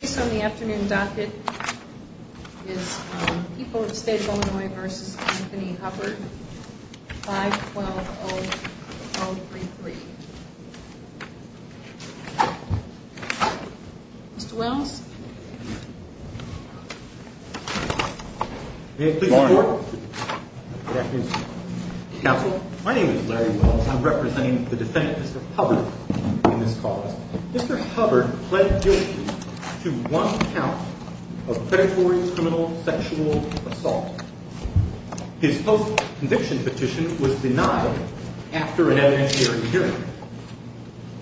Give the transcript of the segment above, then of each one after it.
The case on the afternoon docket is People of the State of Illinois v. Anthony Hubbard, 5-120-033. Mr. Wells? Good afternoon. Counsel. My name is Larry Wells. I'm representing the defendant, Mr. Hubbard, in this cause. Mr. Hubbard pled guilty to one count of predatory criminal sexual assault. His post-conviction petition was denied after an evidentiary hearing.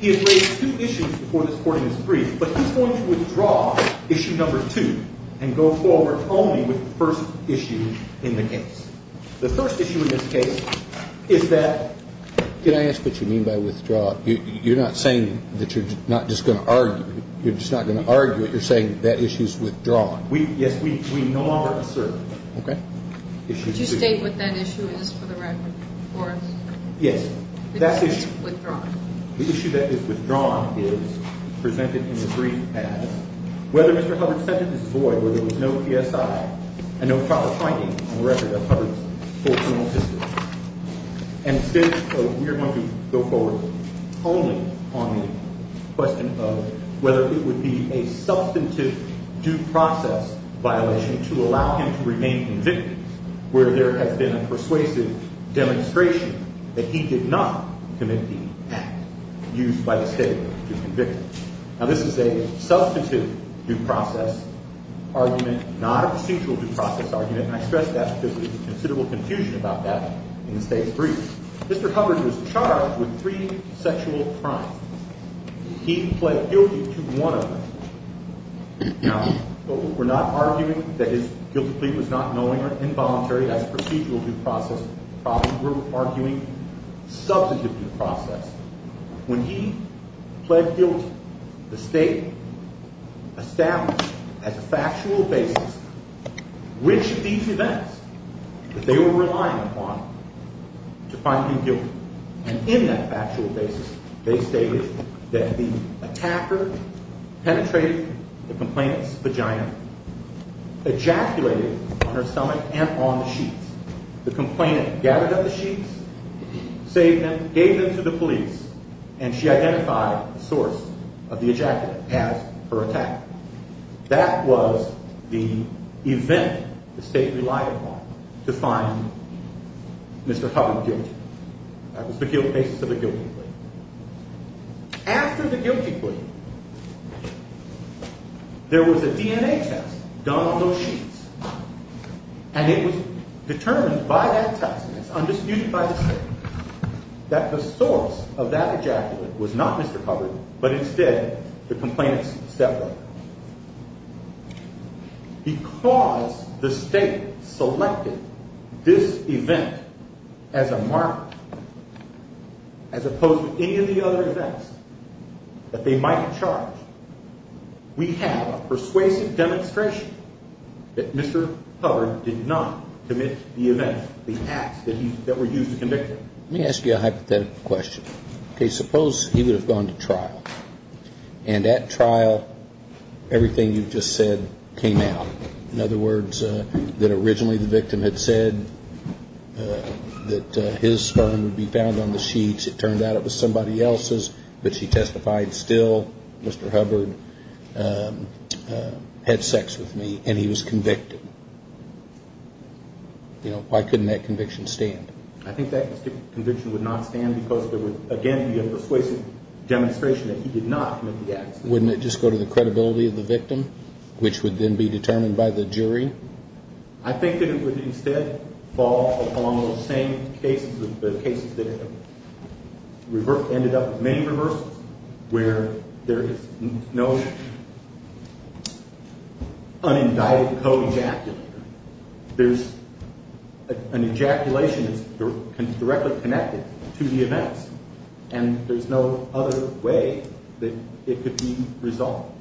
He has raised two issues before this court in his brief, but he's going to withdraw issue number two and go forward only with the first issue in the case. The first issue in this case is that – Can I ask what you mean by withdraw? You're not saying that you're not just going to argue it. You're just not going to argue it. You're saying that issue's withdrawn. Yes, we no longer assert. Okay. Did you state what that issue is for the record for us? Yes. It's withdrawn. The issue that is withdrawn is presented in the brief as whether Mr. Hubbard's sentence is void, where there was no PSI and no proper finding on the record of Hubbard's full criminal history. And instead, we are going to go forward only on the question of whether it would be a substantive due process violation to allow him to remain convicted, where there has been a persuasive demonstration that he did not commit the act used by the state to convict him. Now, this is a substantive due process argument, not a procedural due process argument, and I stress that because there's considerable confusion about that in the state's brief. Mr. Hubbard was charged with three sexual crimes. He pled guilty to one of them. Now, we're not arguing that his guilty plea was not knowing or involuntary as a procedural due process problem. We're arguing substantive due process. When he pled guilty, the state established as a factual basis which of these events that they were relying upon to find him guilty. And in that factual basis, they stated that the attacker penetrated the complainant's vagina, ejaculated on her stomach and on the sheets. The complainant gathered up the sheets, saved them, gave them to the police, and she identified the source of the ejaculate as her attacker. That was the event the state relied upon to find Mr. Hubbard guilty. That was the basis of the guilty plea. After the guilty plea, there was a DNA test done on those sheets, and it was determined by that test, and it's undisputed by the state, that the source of that ejaculate was not Mr. Hubbard, but instead the complainant's stepmother. Because the state selected this event as a marker, as opposed to any of the other events that they might have charged, we have a persuasive demonstration that Mr. Hubbard did not commit the event, the acts that were used to convict him. Let me ask you a hypothetical question. Okay, suppose he would have gone to trial, and at trial, everything you've just said came out. In other words, that originally the victim had said that his sperm would be found on the sheets. It turned out it was somebody else's, but she testified still, Mr. Hubbard had sex with me, and he was convicted. Why couldn't that conviction stand? I think that conviction would not stand because there would, again, be a persuasive demonstration that he did not commit the acts. Wouldn't it just go to the credibility of the victim, which would then be determined by the jury? I think that it would instead fall upon those same cases, the cases that ended up with many reversals, where there is no unindicted co-ejaculator. There's an ejaculation that's directly connected to the events, and there's no other way that it could be resolved.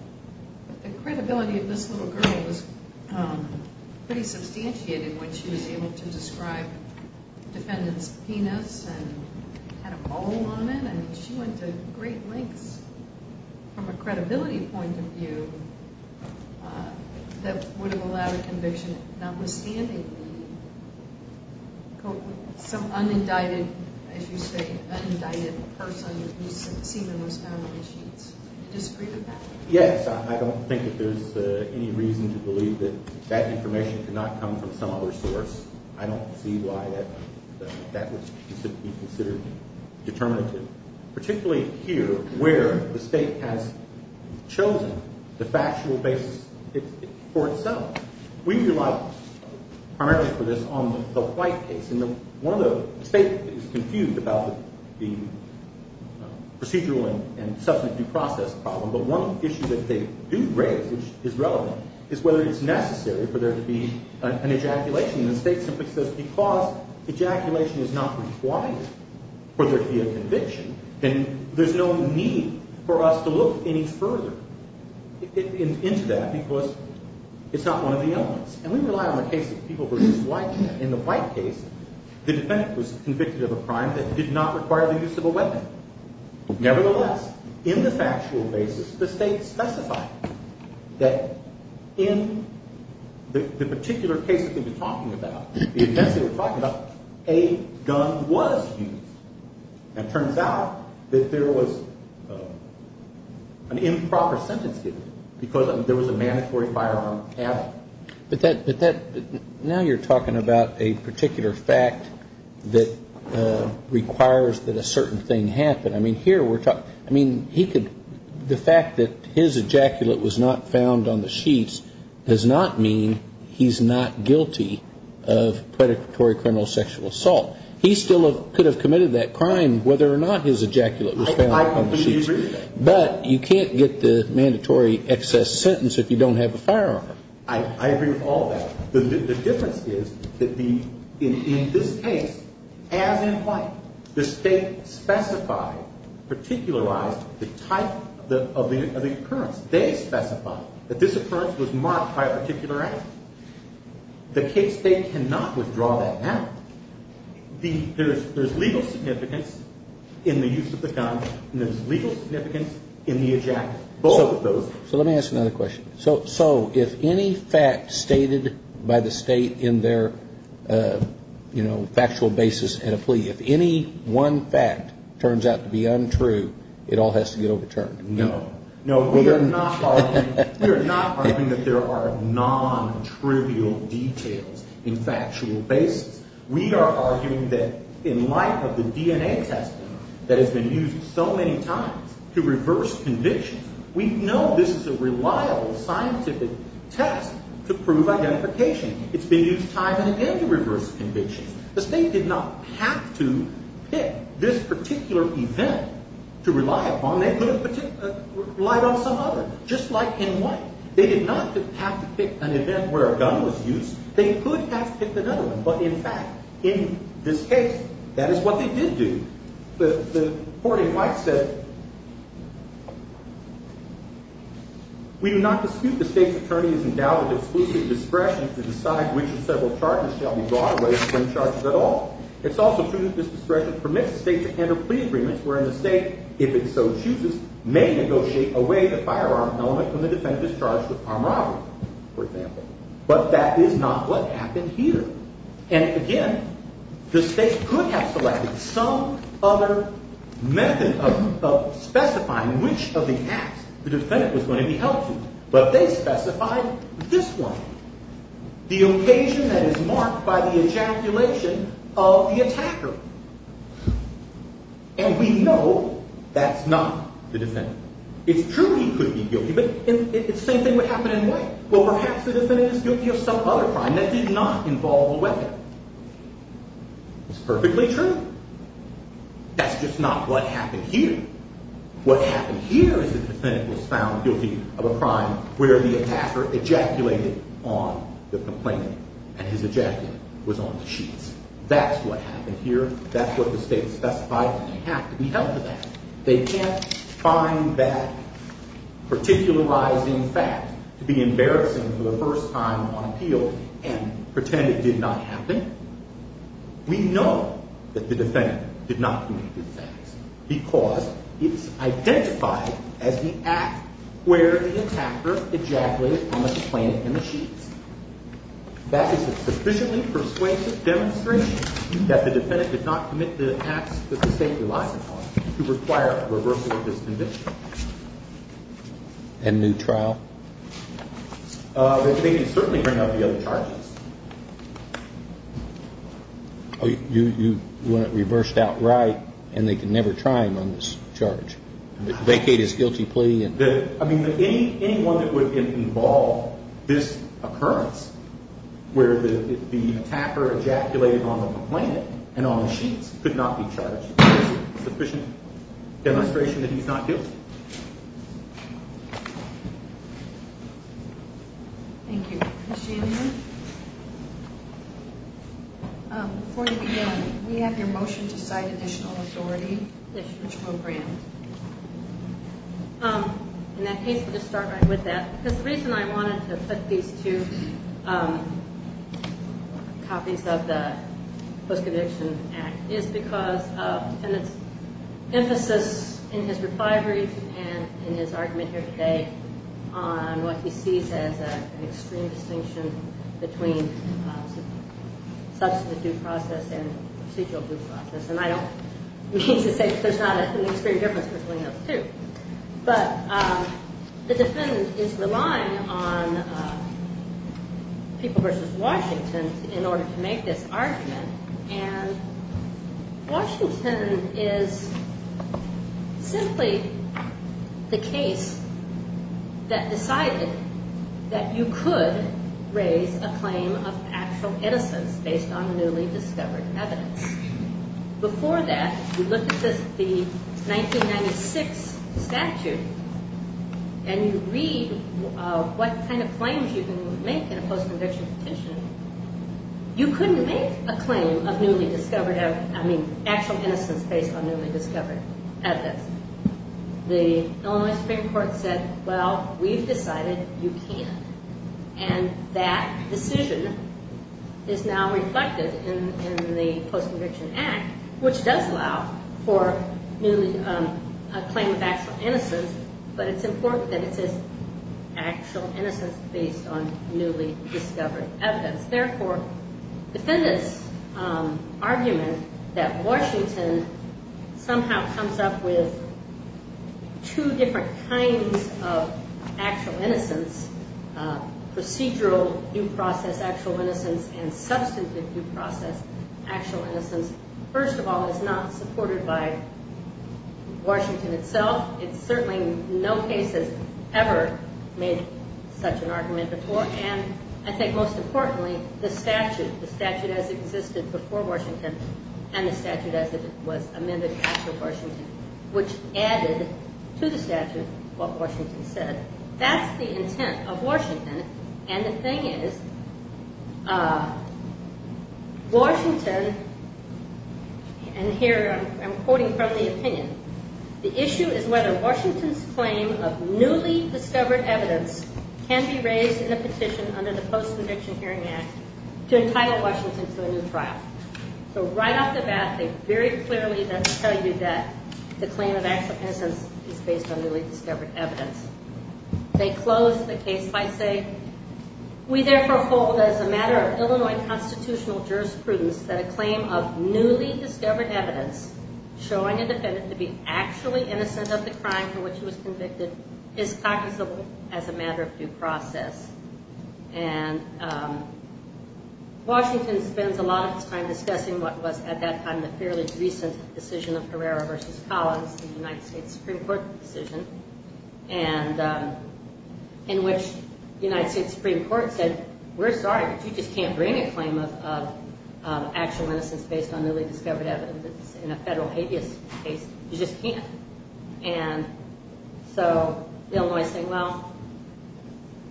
But the credibility of this little girl was pretty substantiated when she was able to describe the defendant's penis and had a mole on it. She went to great lengths from a credibility point of view that would have allowed a conviction notwithstanding the co- Some unindicted, as you say, unindicted person who's seen those found on the sheets. Do you disagree with that? Yes, I don't think that there's any reason to believe that that information could not come from some other source. I don't see why that would be considered determinative, particularly here where the State has chosen the factual basis for itself. We rely primarily for this on the White case. And one of the – the State is confused about the procedural and substantive due process problem, but one issue that they do raise, which is relevant, is whether it's necessary for there to be an ejaculation. And the State simply says because ejaculation is not required for there to be a conviction, then there's no need for us to look any further into that because it's not one of the elements. And we rely on the case of people versus life. In the White case, the defendant was convicted of a crime that did not require the use of a weapon. Nevertheless, in the factual basis, the State specified that in the particular case that we've been talking about, the events that we're talking about, a gun was used. And it turns out that there was an improper sentence given because there was a mandatory firearm added. But that – now you're talking about a particular fact that requires that a certain thing happen. I mean, here we're – I mean, he could – the fact that his ejaculate was not found on the sheets does not mean he's not guilty of predatory criminal sexual assault. He still could have committed that crime whether or not his ejaculate was found on the sheets. I completely agree with that. But you can't get the mandatory excess sentence if you don't have a firearm. I agree with all that. The difference is that the – in this case, as in White, the State specified, particularized the type of the occurrence. They specified that this occurrence was marked by a particular act. The case – they cannot withdraw that now. There's legal significance in the use of the gun and there's legal significance in the ejaculate, both of those things. So let me ask another question. So if any fact stated by the State in their, you know, factual basis in a plea, if any one fact turns out to be untrue, it all has to get overturned. No. No, we are not arguing – we are not arguing that there are non-trivial details in factual basis. We are arguing that in light of the DNA testing that has been used so many times to reverse convictions, we know this is a reliable scientific test to prove identification. It's been used time and again to reverse convictions. The State did not have to pick this particular event to rely upon. They could have relied on some other, just like in White. They did not have to pick an event where a gun was used. They could have picked another one. But in fact, in this case, that is what they did do. The court in White said we do not dispute the State's attorney's endowed exclusive discretion to decide which of several charges shall be brought away from charges at all. It's also true that this discretion permits the State to enter plea agreements wherein the State, if it so chooses, may negotiate away the firearm element when the defendant is charged with armed robbery, for example. But that is not what happened here. And again, the State could have selected some other method of specifying which of the acts the defendant was going to be held to. But they specified this one, the occasion that is marked by the ejaculation of the attacker. And we know that's not the defendant. It's true he could be guilty, but the same thing would happen in White. Well, perhaps the defendant is guilty of some other crime that did not involve a weapon. It's perfectly true. That's just not what happened here. What happened here is that the defendant was found guilty of a crime where the attacker ejaculated on the complainant, and his ejaculate was on the sheets. That's what happened here. That's what the State specified, and they have to be held to that. They can't find that particularizing fact to be embarrassing for the first time on appeal and pretend it did not happen. We know that the defendant did not commit these acts because it's identified as the act where the attacker ejaculated on the complainant and the sheets. That is a sufficiently persuasive demonstration that the defendant did not commit the acts that the State relies upon to require a reversal of this conviction. And new trial? They can certainly bring up the other charges. You want it reversed outright, and they can never try him on this charge? Vacate his guilty plea? I mean, anyone that would involve this occurrence, where the attacker ejaculated on the complainant and on the sheets, could not be charged. It's a sufficient demonstration that he's not guilty. Thank you. Ms. Chandler? Before we begin, we have your motion to cite additional authority. In that case, we'll just start right with that. The reason I wanted to put these two copies of the Post-Conviction Act is because of the defendant's emphasis in his refineries and in his argument here today on what he sees as an extreme distinction between substantive due process and procedural due process. And I don't mean to say that there's not an extreme difference between those two. But the defendant is relying on people versus Washington in order to make this argument. And Washington is simply the case that decided that you could raise a claim of factual innocence based on newly discovered evidence. Before that, we looked at the 1996 statute, and you read what kind of claims you can make in a post-conviction petition. You couldn't make a claim of actually innocence based on newly discovered evidence. The Illinois Supreme Court said, well, we've decided you can't. And that decision is now reflected in the Post-Conviction Act, which does allow for a claim of actual innocence. But it's important that it says actual innocence based on newly discovered evidence. Therefore, defendants' argument that Washington somehow comes up with two different kinds of actual innocence, procedural due process actual innocence and substantive due process actual innocence, first of all, is not supported by Washington itself. It's certainly no case that's ever made such an argument before. And I think most importantly, the statute, the statute as it existed before Washington and the statute as it was amended after Washington, which added to the statute what Washington said, that's the intent of Washington. And the thing is, Washington, and here I'm quoting from the opinion, the issue is whether Washington's claim of newly discovered evidence can be raised in a petition under the Post-Conviction Hearing Act to entitle Washington to a new trial. So right off the bat, they very clearly tell you that the claim of actual innocence is based on newly discovered evidence. They close the case by saying, we therefore hold as a matter of Illinois constitutional jurisprudence that a claim of newly discovered evidence showing a defendant to be actually innocent of the crime for which he was convicted is practicable as a matter of due process. And Washington spends a lot of his time discussing what was at that time the fairly recent decision of Herrera v. Collins, the United States Supreme Court decision, and in which the United States Supreme Court said, we're sorry, but you just can't bring a claim of actual innocence based on newly discovered evidence in a federal habeas case. You just can't. And so Illinois is saying, well,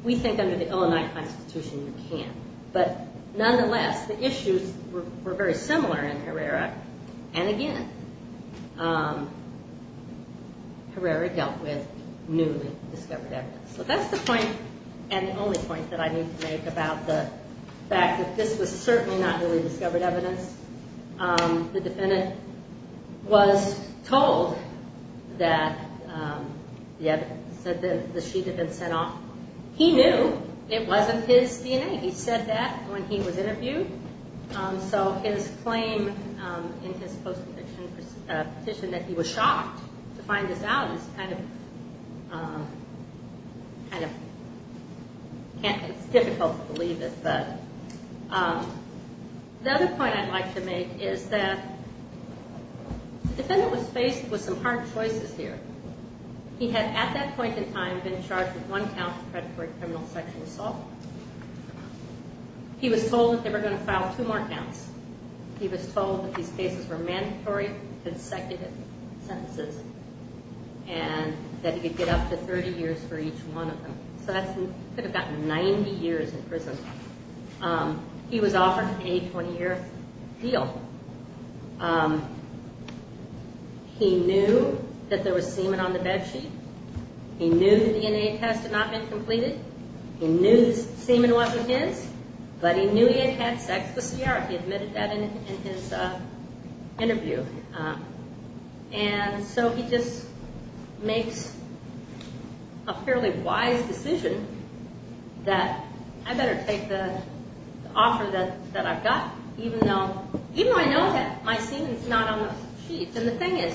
we think under the Illinois Constitution you can't. But nonetheless, the issues were very similar in Herrera. And again, Herrera dealt with newly discovered evidence. So that's the point and the only point that I need to make about the fact that this was certainly not newly discovered evidence. The defendant was told that the sheet had been sent off. He knew it wasn't his DNA. He said that when he was interviewed. So his claim in his post-petition that he was shocked to find this out is kind of difficult to believe. The other point I'd like to make is that the defendant was faced with some hard choices here. He had at that point in time been charged with one count of predatory criminal sexual assault. He was told that they were going to file two more counts. He was told that these cases were mandatory consecutive sentences and that he could get up to 30 years for each one of them. So he could have gotten 90 years in prison. He was offered a 20-year deal. He knew that there was semen on the bed sheet. He knew the DNA test had not been completed. He knew the semen wasn't his. But he knew he had had sex with Sierra. He admitted that in his interview. And so he just makes a fairly wise decision that I better take the offer that I've got. Even though I know that my semen's not on the sheets. And the thing is,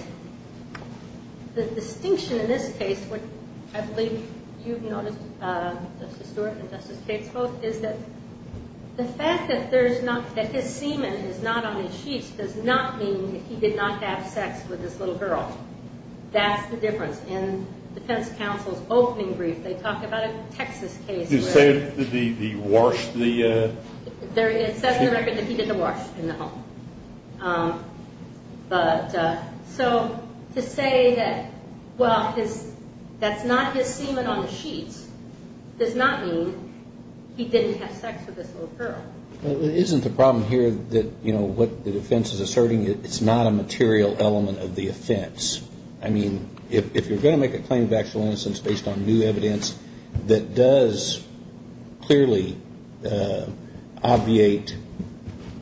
the distinction in this case, which I believe you've noticed, Justice Stewart and Justice Cates both, is that the fact that his semen is not on the sheets does not mean that he did not have sex with this little girl. That's the difference. In the defense counsel's opening brief, they talk about a Texas case. You say that he washed the sheets? It says in the record that he did the wash in the home. So to say that, well, that's not his semen on the sheets does not mean he didn't have sex with this little girl. Isn't the problem here that what the defense is asserting, it's not a material element of the offense? I mean, if you're going to make a claim of actual innocence based on new evidence that does clearly obviate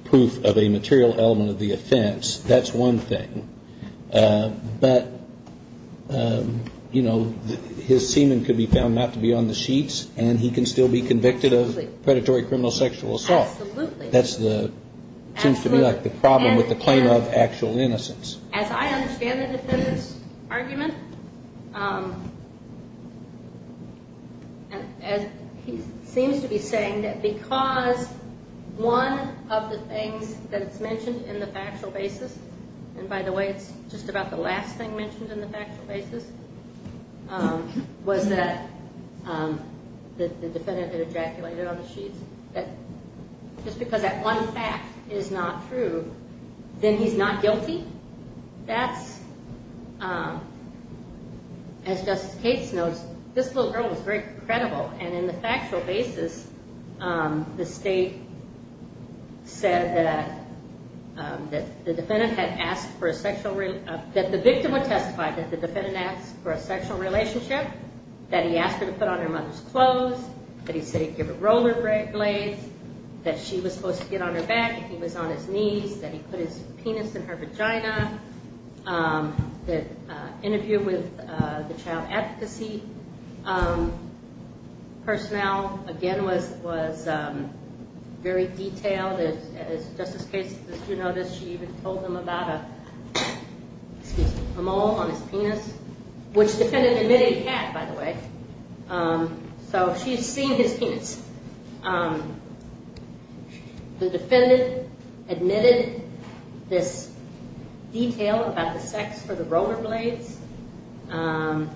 proof of a material element of the offense, that's one thing. But, you know, his semen could be found not to be on the sheets, and he can still be convicted of predatory criminal sexual assault. Absolutely. That seems to be, like, the problem with the claim of actual innocence. As I understand the defendant's argument, he seems to be saying that because one of the things that is mentioned in the factual basis, and by the way, it's just about the last thing mentioned in the factual basis, was that the defendant had ejaculated on the sheets, just because that one fact is not true, then he's not guilty? That's, as Justice Cates knows, this little girl was very credible, and in the factual basis, the state said that the victim would testify that the defendant asked for a sexual relationship, that he asked her to put on her mother's clothes, that he said he'd give her rollerblades, that she was supposed to get on her back if he was on his knees, that he put his penis in her vagina. The interview with the child advocacy personnel, again, was very detailed. As Justice Cates, as you know, she even told them about a mole on his penis, which the defendant admitted he had, by the way. So she's seen his penis. The defendant admitted this detail about the sex for the rollerblades, and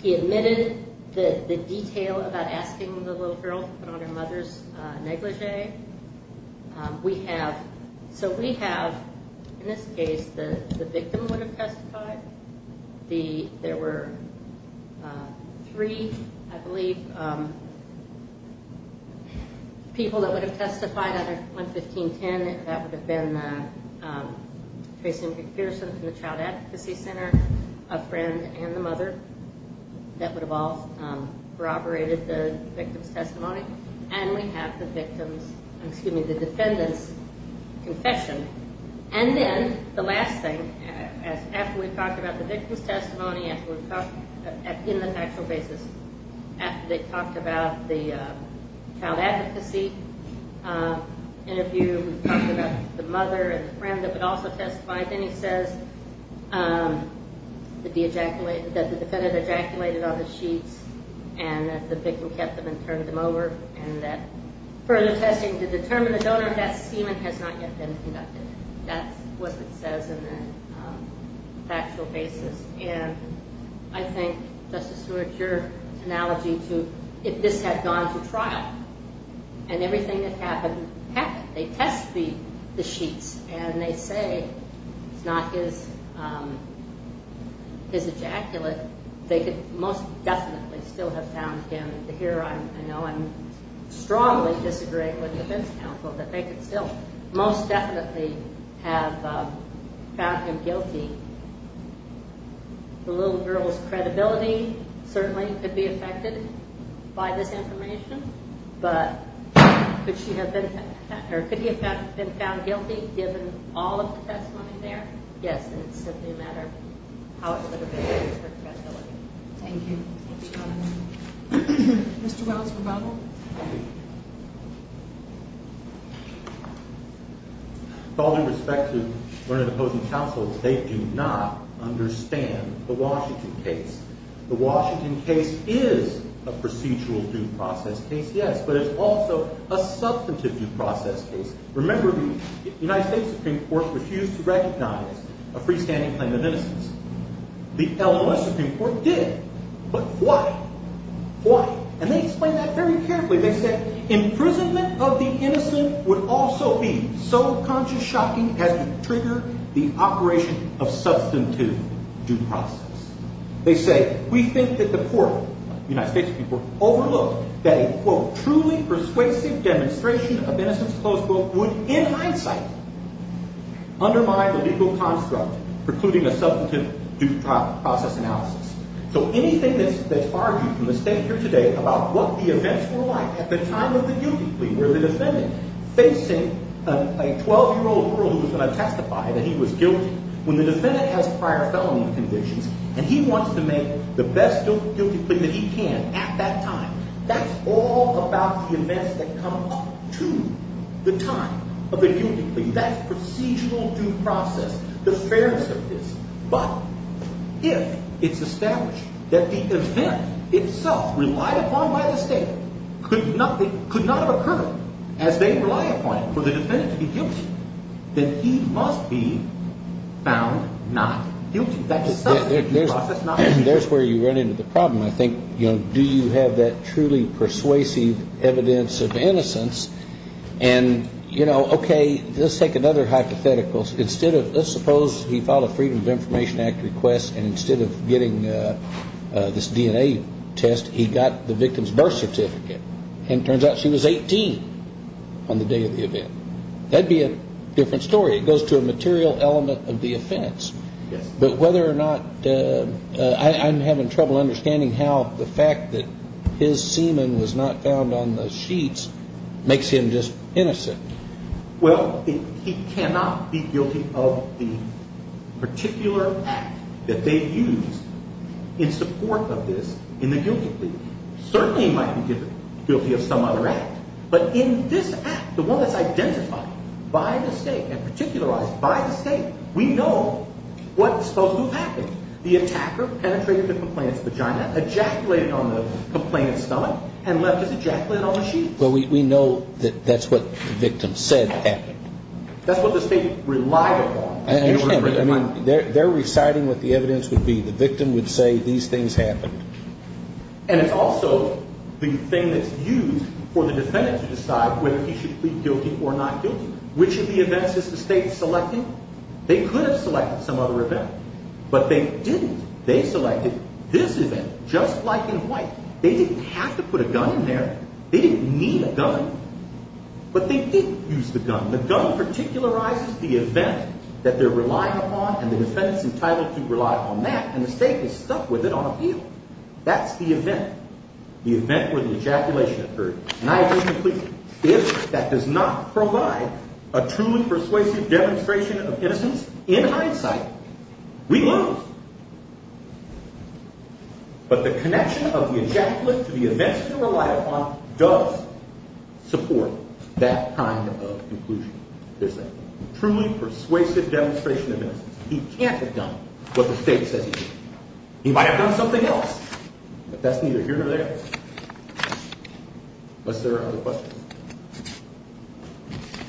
he admitted the detail about asking the little girl to put on her mother's negligee. So we have, in this case, the victim would have testified. There were three, I believe, people that would have testified on 1510. That would have been Tracy McPherson from the Child Advocacy Center, a friend, and the mother. That would have all corroborated the victim's testimony. And we have the defendant's confession. And then the last thing, after we've talked about the victim's testimony in the factual basis, after they've talked about the child advocacy interview, we've talked about the mother and the friend that would also testify, then he says that the defendant ejaculated on the sheets and that the victim kept them and turned them over, and that further testing to determine the donor of that semen has not yet been conducted. That's what it says in the factual basis. And I think, Justice Stewart, your analogy to if this had gone to trial and everything that happened happened, they test the sheets and they say it's not his ejaculate, they could most definitely still have found him. Here I know I strongly disagree with the defense counsel that they could still most definitely have found him guilty. The little girl's credibility certainly could be affected by this information, but could he have been found guilty given all of the testimony there? Yes, and it's simply a matter of how it would have affected her credibility. Thank you. Mr. Wells, rebuttal. With all due respect to one of the opposing counsels, they do not understand the Washington case. The Washington case is a procedural due process case, yes, but it's also a substantive due process case. Remember the United States Supreme Court refused to recognize a freestanding claim of innocence. The Illinois Supreme Court did, but why? Why? And they explained that very carefully. They said imprisonment of the innocent would also be so conscious shocking as to trigger the operation of substantive due process. They say we think that the court, the United States Supreme Court, overlooked that a truly persuasive demonstration of innocence, close quote, would in hindsight undermine the legal construct precluding a substantive due process analysis. So anything that's argued in the state here today about what the events were like at the time of the guilty plea where the defendant facing a 12-year-old girl who was going to testify that he was guilty, when the defendant has prior felony convictions and he wants to make the best guilty plea that he can at that time, that's all about the events that come up to the time of the guilty plea. That's procedural due process, the fairness of this. But if it's established that the event itself relied upon by the state could not have occurred as they rely upon it for the defendant to be guilty, then he must be found not guilty. There's where you run into the problem. I think, you know, do you have that truly persuasive evidence of innocence? And, you know, okay, let's take another hypothetical. Let's suppose he filed a Freedom of Information Act request and instead of getting this DNA test, he got the victim's birth certificate and it turns out she was 18 on the day of the event. That would be a different story. It goes to a material element of the offense. But whether or not I'm having trouble understanding how the fact that his semen was not found on the sheets makes him just innocent. Well, he cannot be guilty of the particular act that they used in support of this in the guilty plea. Certainly he might be guilty of some other act. But in this act, the one that's identified by the state and particularized by the state, we know what's supposed to have happened. The attacker penetrated the complainant's vagina, ejaculated on the complainant's stomach, and left his ejaculate on the sheets. Well, we know that that's what the victim said happened. That's what the state relied upon. They're reciting what the evidence would be. The victim would say these things happened. And it's also the thing that's used for the defendant to decide whether he should plead guilty or not guilty. Which of the events is the state selecting? They could have selected some other event. But they didn't. They selected this event, just like in white. They didn't have to put a gun in there. They didn't need a gun. But they did use the gun. The gun particularizes the event that they're relying upon, and the defendant's entitled to rely on that. And the state is stuck with it on appeal. That's the event, the event where the ejaculation occurred. If that does not provide a truly persuasive demonstration of innocence, in hindsight, we lose. But the connection of the ejaculate to the events they relied upon does support that kind of conclusion. There's a truly persuasive demonstration of innocence. He can't have done what the state says he did. He might have done something else. But that's neither here nor there. Unless there are other questions.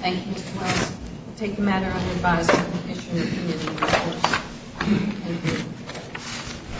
Thank you, Mr. Wells. We'll take a matter on the advisory commission.